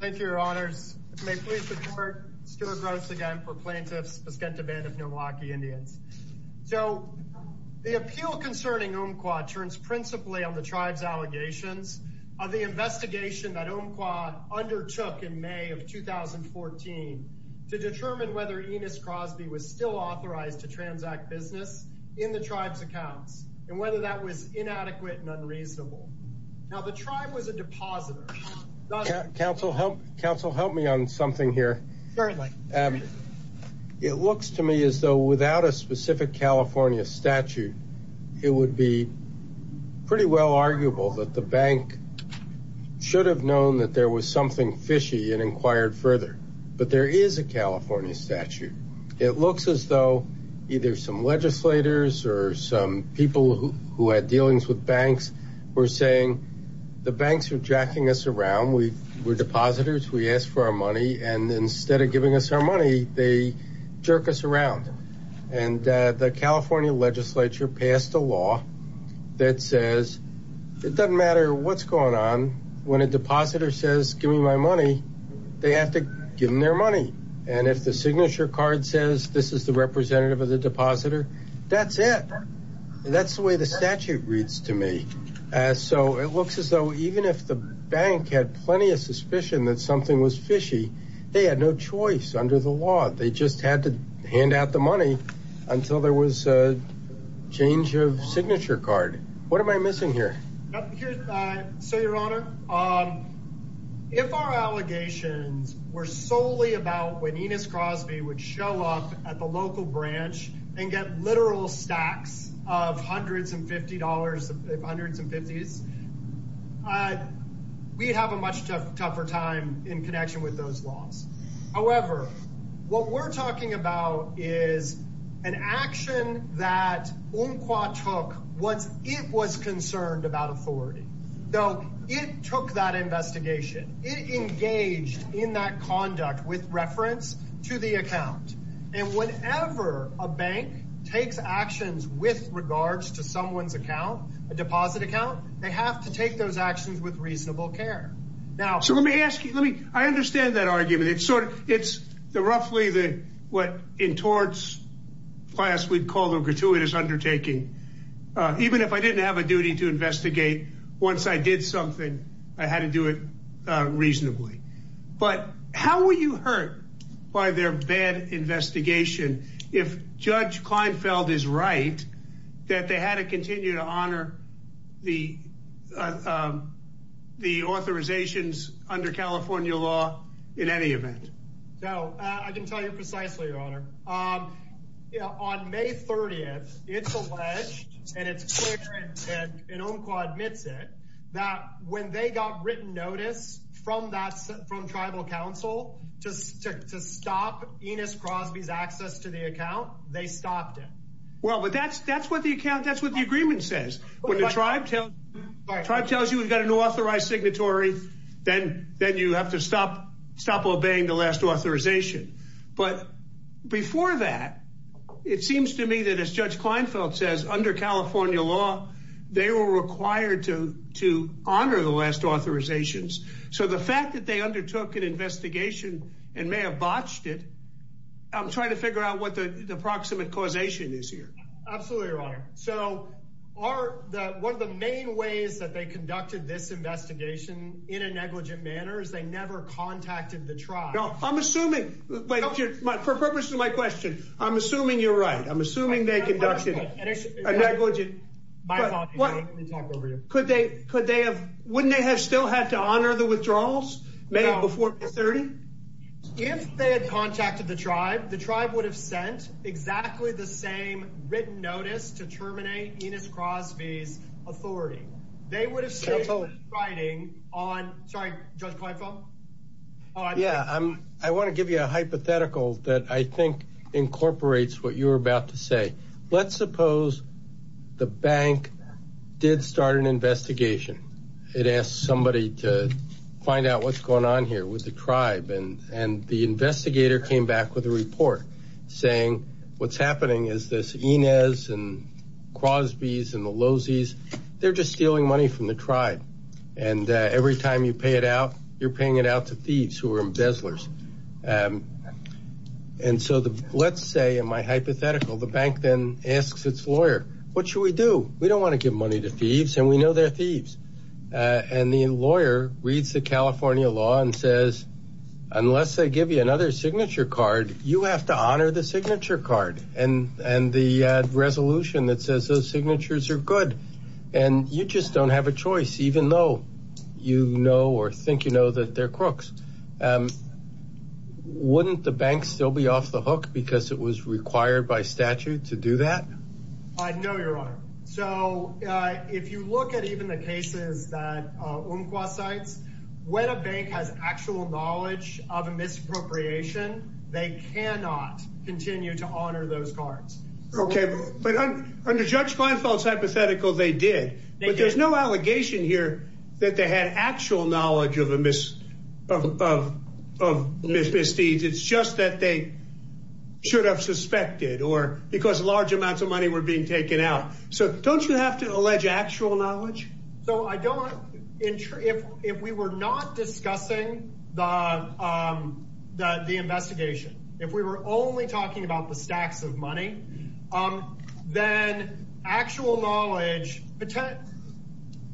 Thank you, Your Honors. May it please the Court, Stuart Gross again for Plaintiffs, Paskenta Band of Milwaukee Indians. So, the appeal concerning Umpqua turns principally on the tribe's allegations of the investigation that Umpqua undertook in May of 2014 to determine whether Enos Crosby was still authorized to transact business in the tribe's accounts, and whether that was inadequate and unreasonable. Now, the tribe was a depositor. Counsel, help me on something here. Certainly. It looks to me as though without a specific California statute, it would be pretty well arguable that the bank should have known that there was something fishy and inquired further. But there is a California statute. It looks as though either some legislators or some people who had dealings with banks were saying, the banks are jacking us around. We're depositors. We ask for our money. And instead of giving us our money, they jerk us around. And the California legislature passed a law that says it doesn't matter what's going on. When a depositor says, give me my money, they have to give them their money. And if the signature card says this is the representative of the depositor, that's it. That's the way the statute reads to me. So it looks as though even if the bank had plenty of suspicion that something was fishy, they had no choice under the law. They just had to hand out the money until there was a change of signature card. What am I missing here? So, Your Honor, if our allegations were solely about when Enos Crosby would show up at the local branch and get literal stacks of hundreds and fifty dollars, hundreds and fifties, we'd have a much tougher time in connection with those laws. However, what we're talking about is an action that Unqua took once it was concerned about authority. So it took that investigation. It engaged in that conduct with reference to the account. And whenever a bank takes actions with regards to someone's account, a deposit account, they have to take those actions with reasonable care. Now, so let me ask you, let me I understand that argument. It's sort of it's the roughly the what in torts class we'd call the gratuitous undertaking. Even if I didn't have a duty to investigate, once I did something, I had to do it reasonably. But how were you hurt by their bad investigation? If Judge Kleinfeld is right, that they had to continue to honor the the authorizations under California law in any event. So I can tell you precisely, Your Honor. On May 30th, it's alleged and it's clear and Unqua admits it, that when they got written notice from that from Tribal Council to stop Enos Crosby's access to the account, they stopped it. Well, but that's that's what the account that's what the agreement says. When the tribe tells you we've got an authorized signatory, then then you have to stop. Stop obeying the last authorization. But before that, it seems to me that as Judge Kleinfeld says, under California law, they were required to to honor the last authorizations. So the fact that they undertook an investigation and may have botched it. I'm trying to figure out what the approximate causation is here. Absolutely right. So are one of the main ways that they conducted this investigation in a negligent manner is they never contacted the tribe. No, I'm assuming for purposes of my question. I'm assuming you're right. I'm assuming they conducted a negligent. What could they could they have? Wouldn't they have still had to honor the withdrawals before 30? If they had contacted the tribe, the tribe would have sent exactly the same written notice to terminate Enos Crosby's authority. They would have said writing on. Sorry, Judge Kleinfeld. Yeah, I'm I want to give you a hypothetical that I think incorporates what you're about to say. Let's suppose the bank did start an investigation. It asked somebody to find out what's going on here with the tribe. And the investigator came back with a report saying what's happening is this Enos and Crosby's and the Losey's. They're just stealing money from the tribe. And every time you pay it out, you're paying it out to thieves who are embezzlers. And so the let's say in my hypothetical, the bank then asks its lawyer, what should we do? We don't want to give money to thieves and we know they're thieves. And the lawyer reads the California law and says, unless they give you another signature card, you have to honor the signature card. And and the resolution that says those signatures are good. And you just don't have a choice, even though you know or think, you know, that they're crooks. Wouldn't the bank still be off the hook because it was required by statute to do that? I know you're right. So if you look at even the cases that Umqua cites, when a bank has actual knowledge of a misappropriation, they cannot continue to honor those cards. OK, but under Judge Kleinfeld's hypothetical, they did. But there's no allegation here that they had actual knowledge of a mis of misdeeds. It's just that they should have suspected or because large amounts of money were being taken out. So don't you have to allege actual knowledge? So I don't. If if we were not discussing the the investigation, if we were only talking about the stacks of money, then actual knowledge.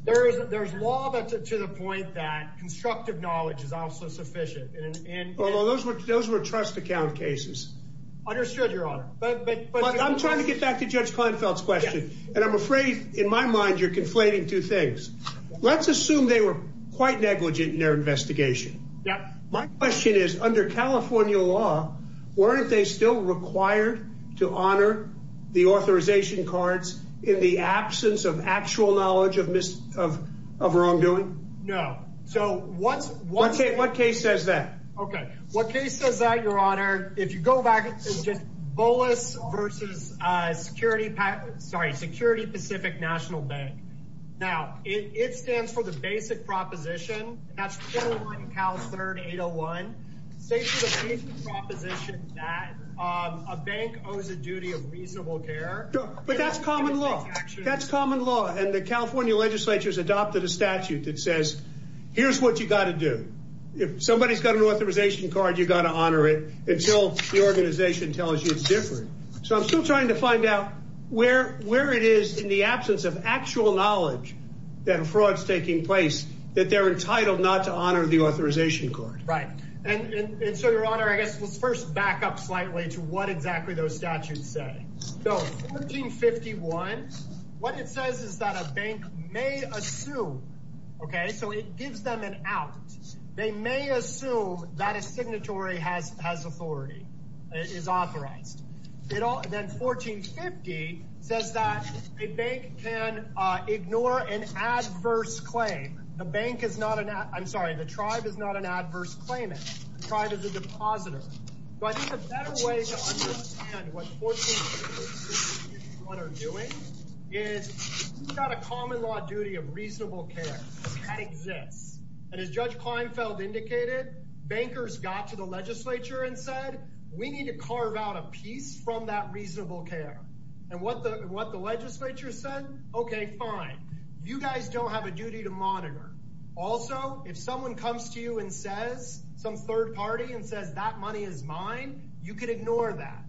There is there's law to the point that constructive knowledge is also sufficient. And those were those were trust account cases. Understood, Your Honor. But I'm trying to get back to Judge Kleinfeld's question. And I'm afraid in my mind you're conflating two things. Let's assume they were quite negligent in their investigation. My question is, under California law, weren't they still required to honor the authorization cards in the absence of actual knowledge of mis of wrongdoing? No. So what's what's it? What case says that? OK, what case says that, Your Honor? If you go back, it's just bolus versus security. Sorry, Security Pacific National Bank. Now, it stands for the basic proposition. That's Cal 3801 proposition that a bank owes a duty of reasonable care. But that's common law. That's common law. And the California legislature has adopted a statute that says, here's what you got to do. If somebody's got an authorization card, you've got to honor it until the organization tells you it's different. So I'm still trying to find out where where it is in the absence of actual knowledge that fraud is taking place, that they're entitled not to honor the authorization card. Right. And so, Your Honor, I guess let's first back up slightly to what exactly those statutes say. Fifty one. What it says is that a bank may assume. OK, so it gives them an out. They may assume that a signatory has has authority is authorized. It all then 1450 says that a bank can ignore an adverse claim. The bank is not. I'm sorry. The tribe is not an adverse claim. Tried as a depositor. But the better way to understand what they're doing is got a common law duty of reasonable care that exists. And as Judge Klinefeld indicated, bankers got to the legislature and said, we need to carve out a piece from that reasonable care. And what the what the legislature said, OK, fine. You guys don't have a duty to monitor. Also, if someone comes to you and says some third party and says that money is mine, you can ignore that.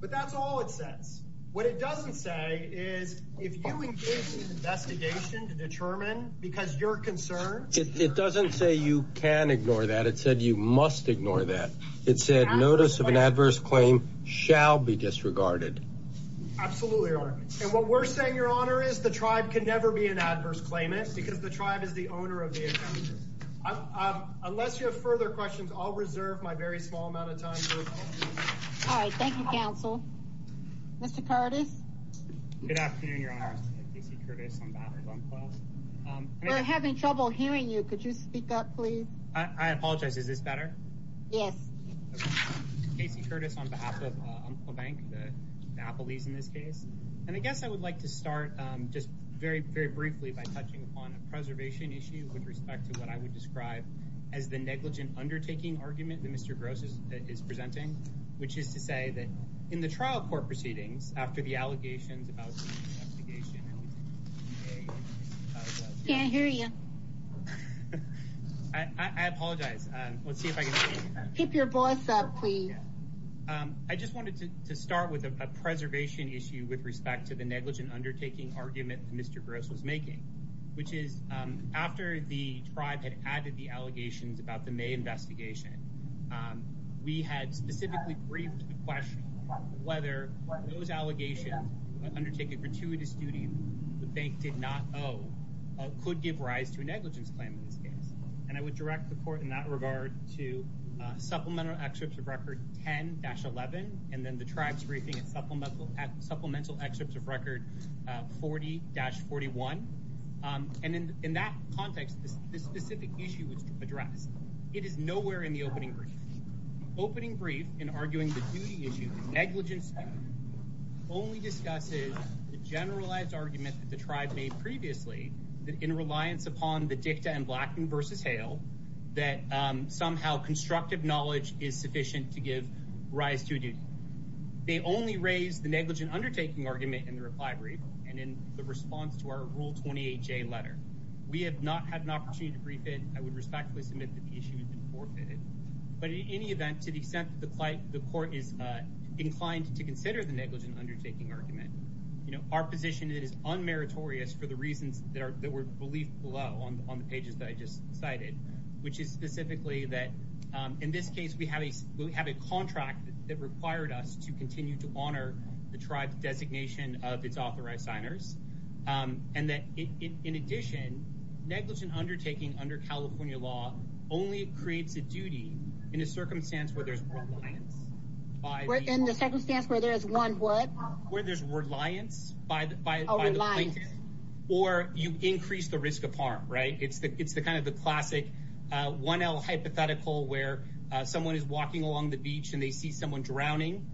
But that's all it says. What it doesn't say is if you engage in an investigation to determine because you're concerned, it doesn't say you can ignore that. It said you must ignore that. It said notice of an adverse claim shall be disregarded. Absolutely. And what we're saying, Your Honor, is the tribe can never be an adverse claimant because the tribe is the owner of the account. Unless you have further questions, I'll reserve my very small amount of time. All right. Thank you, counsel. Mr. Curtis. Good afternoon, Your Honor. We're having trouble hearing you. Could you speak up, please? I apologize. Is this better? Yes. Casey Curtis on behalf of the bank, the Applebee's in this case. And I guess I would like to start just very, very briefly by touching upon a preservation issue with respect to what I would describe as the negligent undertaking argument. Mr. Gross is presenting, which is to say that in the trial court proceedings after the allegations about. Can't hear you. I apologize. Let's see if I can keep your voice up, please. I just wanted to start with a preservation issue with respect to the negligent undertaking argument. Mr. Gross was making, which is after the tribe had added the allegations about the May investigation, we had specifically briefed the question whether those allegations undertaken gratuitous duty. The bank did not. Oh, could give rise to a negligence claim in this case. And I would direct the court in that regard to supplemental excerpts of record 10 dash 11. And then the tribes briefing and supplemental supplemental excerpts of record 40 dash 41. And in that context, this specific issue was addressed. It is nowhere in the opening. Opening brief in arguing the negligence only discusses the generalized argument that the tribe made previously in reliance upon the dicta and Blackman versus Hale, that somehow constructive knowledge is sufficient to give rise to a duty. They only raised the negligent undertaking argument in the reply brief and in the response to our rule 28 J letter. We have not had an opportunity to brief it. I would respectfully submit that the issue has been forfeited. But in any event, to the extent that the court is inclined to consider the negligent undertaking argument, our position is unmeritorious for the reasons that were believed below on the pages that I just cited, which is specifically that in this case, we have a we have a contract that required us to continue to honor the tribe's designation of its authorized signers. And that, in addition, negligent undertaking under California law only creates a duty in a circumstance where there's. We're in the circumstance where there is one word where there's reliance by a reliance or you increase the risk of harm. Right. It's the it's the kind of the classic one hypothetical where someone is walking along the beach and they see someone drowning.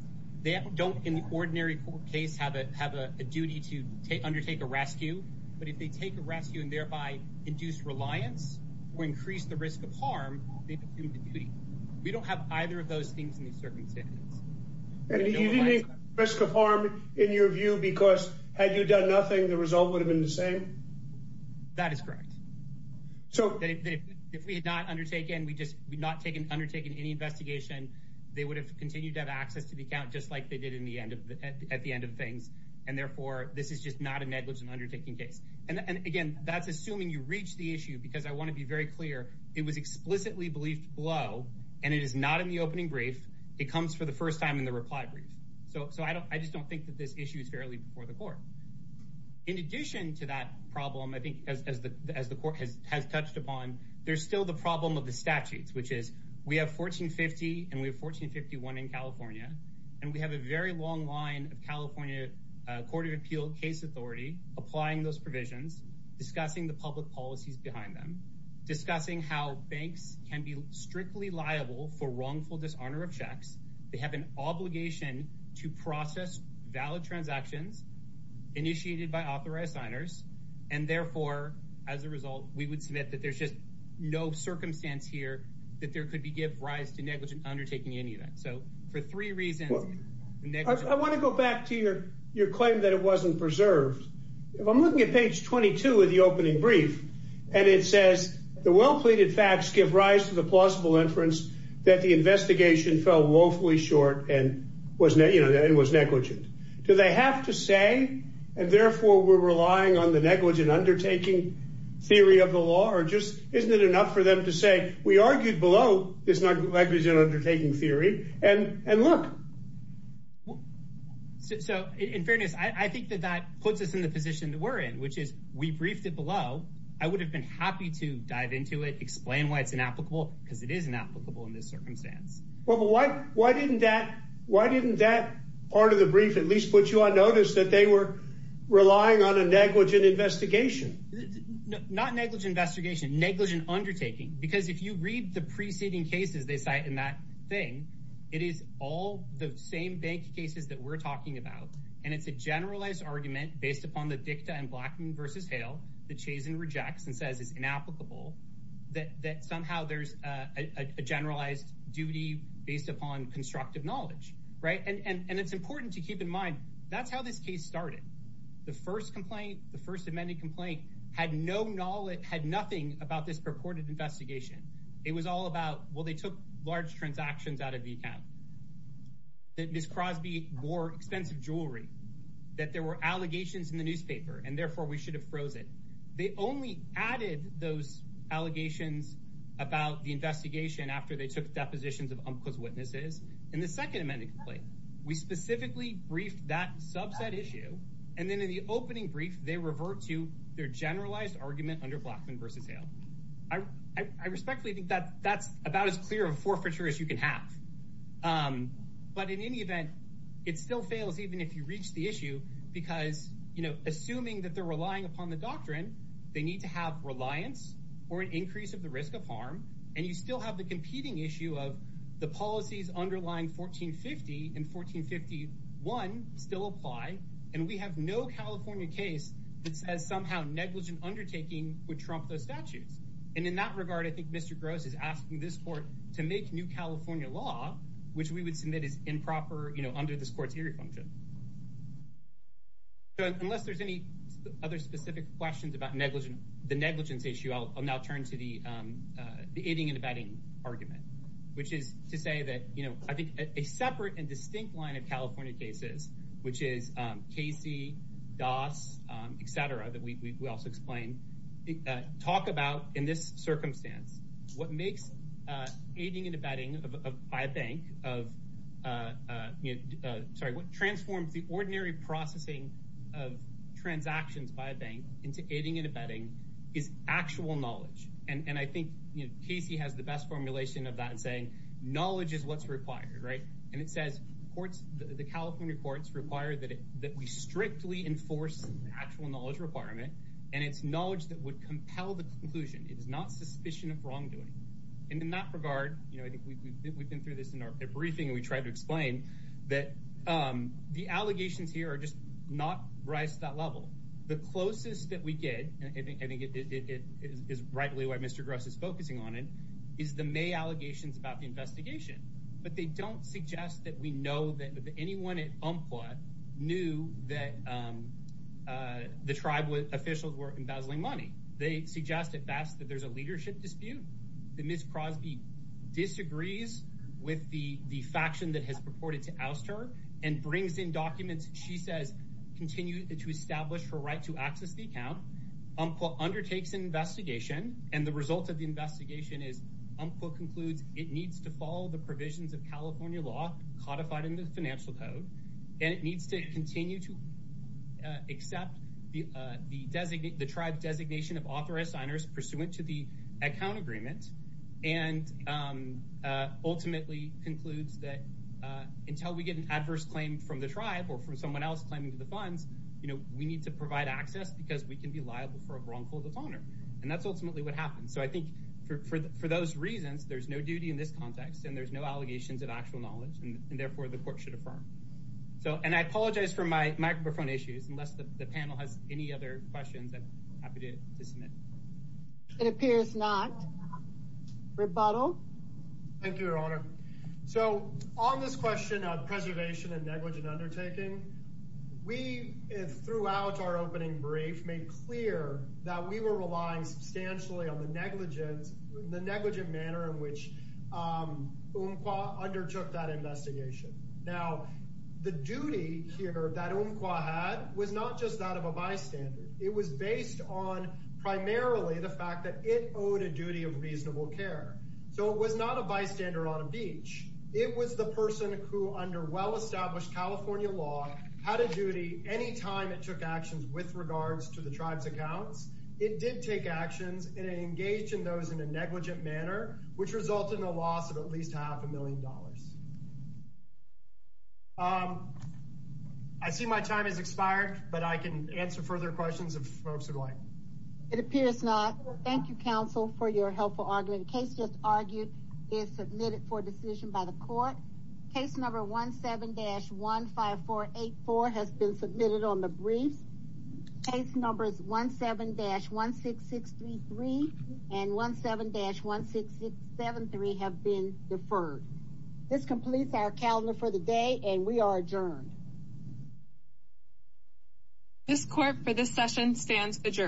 They don't, in the ordinary case, have a have a duty to undertake a rescue. But if they take a rescue and thereby induce reliance or increase the risk of harm, they assume the duty. We don't have either of those things in these circumstances. And risk of harm, in your view, because had you done nothing, the result would have been the same. That is correct. So if we had not undertaken, we just would not take an undertaking, any investigation. They would have continued to have access to the account, just like they did in the end, at the end of things. And therefore, this is just not a negligent undertaking case. And again, that's assuming you reach the issue, because I want to be very clear. It was explicitly believed below and it is not in the opening brief. It comes for the first time in the reply brief. So. So I don't I just don't think that this issue is fairly before the court. In addition to that problem, I think, as the as the court has touched upon, there's still the problem of the statutes, which is we have 1450 and we have 1451 in California. And we have a very long line of California Court of Appeal case authority applying those provisions, discussing the public policies behind them, discussing how banks can be strictly liable for wrongful dishonor of checks. They have an obligation to process valid transactions initiated by authorized signers. And therefore, as a result, we would submit that there's just no circumstance here that there could be give rise to negligent undertaking any of that. So for three reasons, I want to go back to your your claim that it wasn't preserved. If I'm looking at page 22 of the opening brief and it says the well-pleaded facts give rise to the plausible inference that the investigation fell woefully short and was, you know, it was negligent. Do they have to say, and therefore we're relying on the negligent undertaking theory of the law or just isn't it enough for them to say we argued below this negligent undertaking theory? And and look. So in fairness, I think that that puts us in the position that we're in, which is we briefed it below. I would have been happy to dive into it, explain why it's inapplicable because it is inapplicable in this circumstance. Well, why why didn't that why didn't that part of the brief at least put you on notice that they were relying on a negligent investigation? Not negligent investigation, negligent undertaking, because if you read the preceding cases they cite in that thing, it is all the same bank cases that we're talking about. And it's a generalized argument based upon the dicta and Blackman versus Hale. The Chazen rejects and says it's inapplicable that somehow there's a generalized duty based upon constructive knowledge. Right. And it's important to keep in mind, that's how this case started. The first complaint, the first amended complaint had no knowledge, had nothing about this purported investigation. It was all about, well, they took large transactions out of the account. Ms. Crosby wore expensive jewelry, that there were allegations in the newspaper, and therefore we should have frozen. They only added those allegations about the investigation after they took depositions of UMCA's witnesses. In the second amended complaint, we specifically briefed that subset issue. And then in the opening brief, they revert to their generalized argument under Blackman versus Hale. I respectfully think that that's about as clear a forfeiture as you can have. But in any event, it still fails, even if you reach the issue, because, you know, assuming that they're relying upon the doctrine, they need to have reliance or an increase of the risk of harm. And you still have the competing issue of the policies underlying 1450 and 1451 still apply. And we have no California case that says somehow negligent undertaking would trump those statutes. And in that regard, I think Mr. Gross is asking this court to make new California law, which we would submit is improper, you know, under this court's hearing function. Unless there's any other specific questions about negligent, the negligence issue, I'll now turn to the aiding and abetting argument, which is to say that, you know, I think a separate and distinct line of California cases, which is Casey, Doss, et cetera, that we also explain, talk about in this circumstance, what makes aiding and abetting by a bank of sorry, what transforms the ordinary processing of transactions by a bank into aiding and abetting is actual knowledge. And I think Casey has the best formulation of that and saying knowledge is what's required. Right. And it says courts, the California courts require that that we strictly enforce actual knowledge requirement. And it's knowledge that would compel the conclusion. It is not suspicion of wrongdoing. And in that regard, you know, we've been through this in our briefing. We tried to explain that the allegations here are just not raised to that level. The closest that we get, I think it is rightly why Mr. Gross is focusing on it, is the May allegations about the investigation. But they don't suggest that we know that anyone at Umpqua knew that the tribal officials were embezzling money. They suggest at best that there's a leadership dispute. The Ms. Crosby disagrees with the faction that has purported to oust her and brings in documents. She says continue to establish her right to access the account. Umpqua undertakes an investigation and the result of the investigation is Umpqua concludes it needs to follow the provisions of California law codified in the financial code. And it needs to continue to accept the tribe designation of authorized signers pursuant to the account agreement. And ultimately concludes that until we get an adverse claim from the tribe or from someone else claiming to the funds, we need to provide access because we can be liable for a wrongful defaulter. And that's ultimately what happens. So I think for those reasons, there's no duty in this context and there's no allegations of actual knowledge and therefore the court should affirm. And I apologize for my microphone issues unless the panel has any other questions I'm happy to submit. It appears not. Rebuttal? Thank you, Your Honor. So on this question of preservation and negligent undertaking, we throughout our opening brief made clear that we were relying substantially on the negligence, the negligent manner in which Umpqua undertook that investigation. Now, the duty here that Umpqua had was not just that of a bystander. It was based on primarily the fact that it owed a duty of reasonable care. So it was not a bystander on a beach. It was the person who, under well-established California law, had a duty any time it took actions with regards to the tribe's accounts. It did take actions and it engaged in those in a negligent manner, which resulted in a loss of at least half a million dollars. I see my time has expired, but I can answer further questions if folks would like. It appears not. Thank you, counsel, for your helpful argument. The case just argued is submitted for decision by the court. Case number 17-15484 has been submitted on the brief. Case numbers 17-16633 and 17-16673 have been deferred. This completes our calendar for the day and we are adjourned. This court for this session stands adjourned.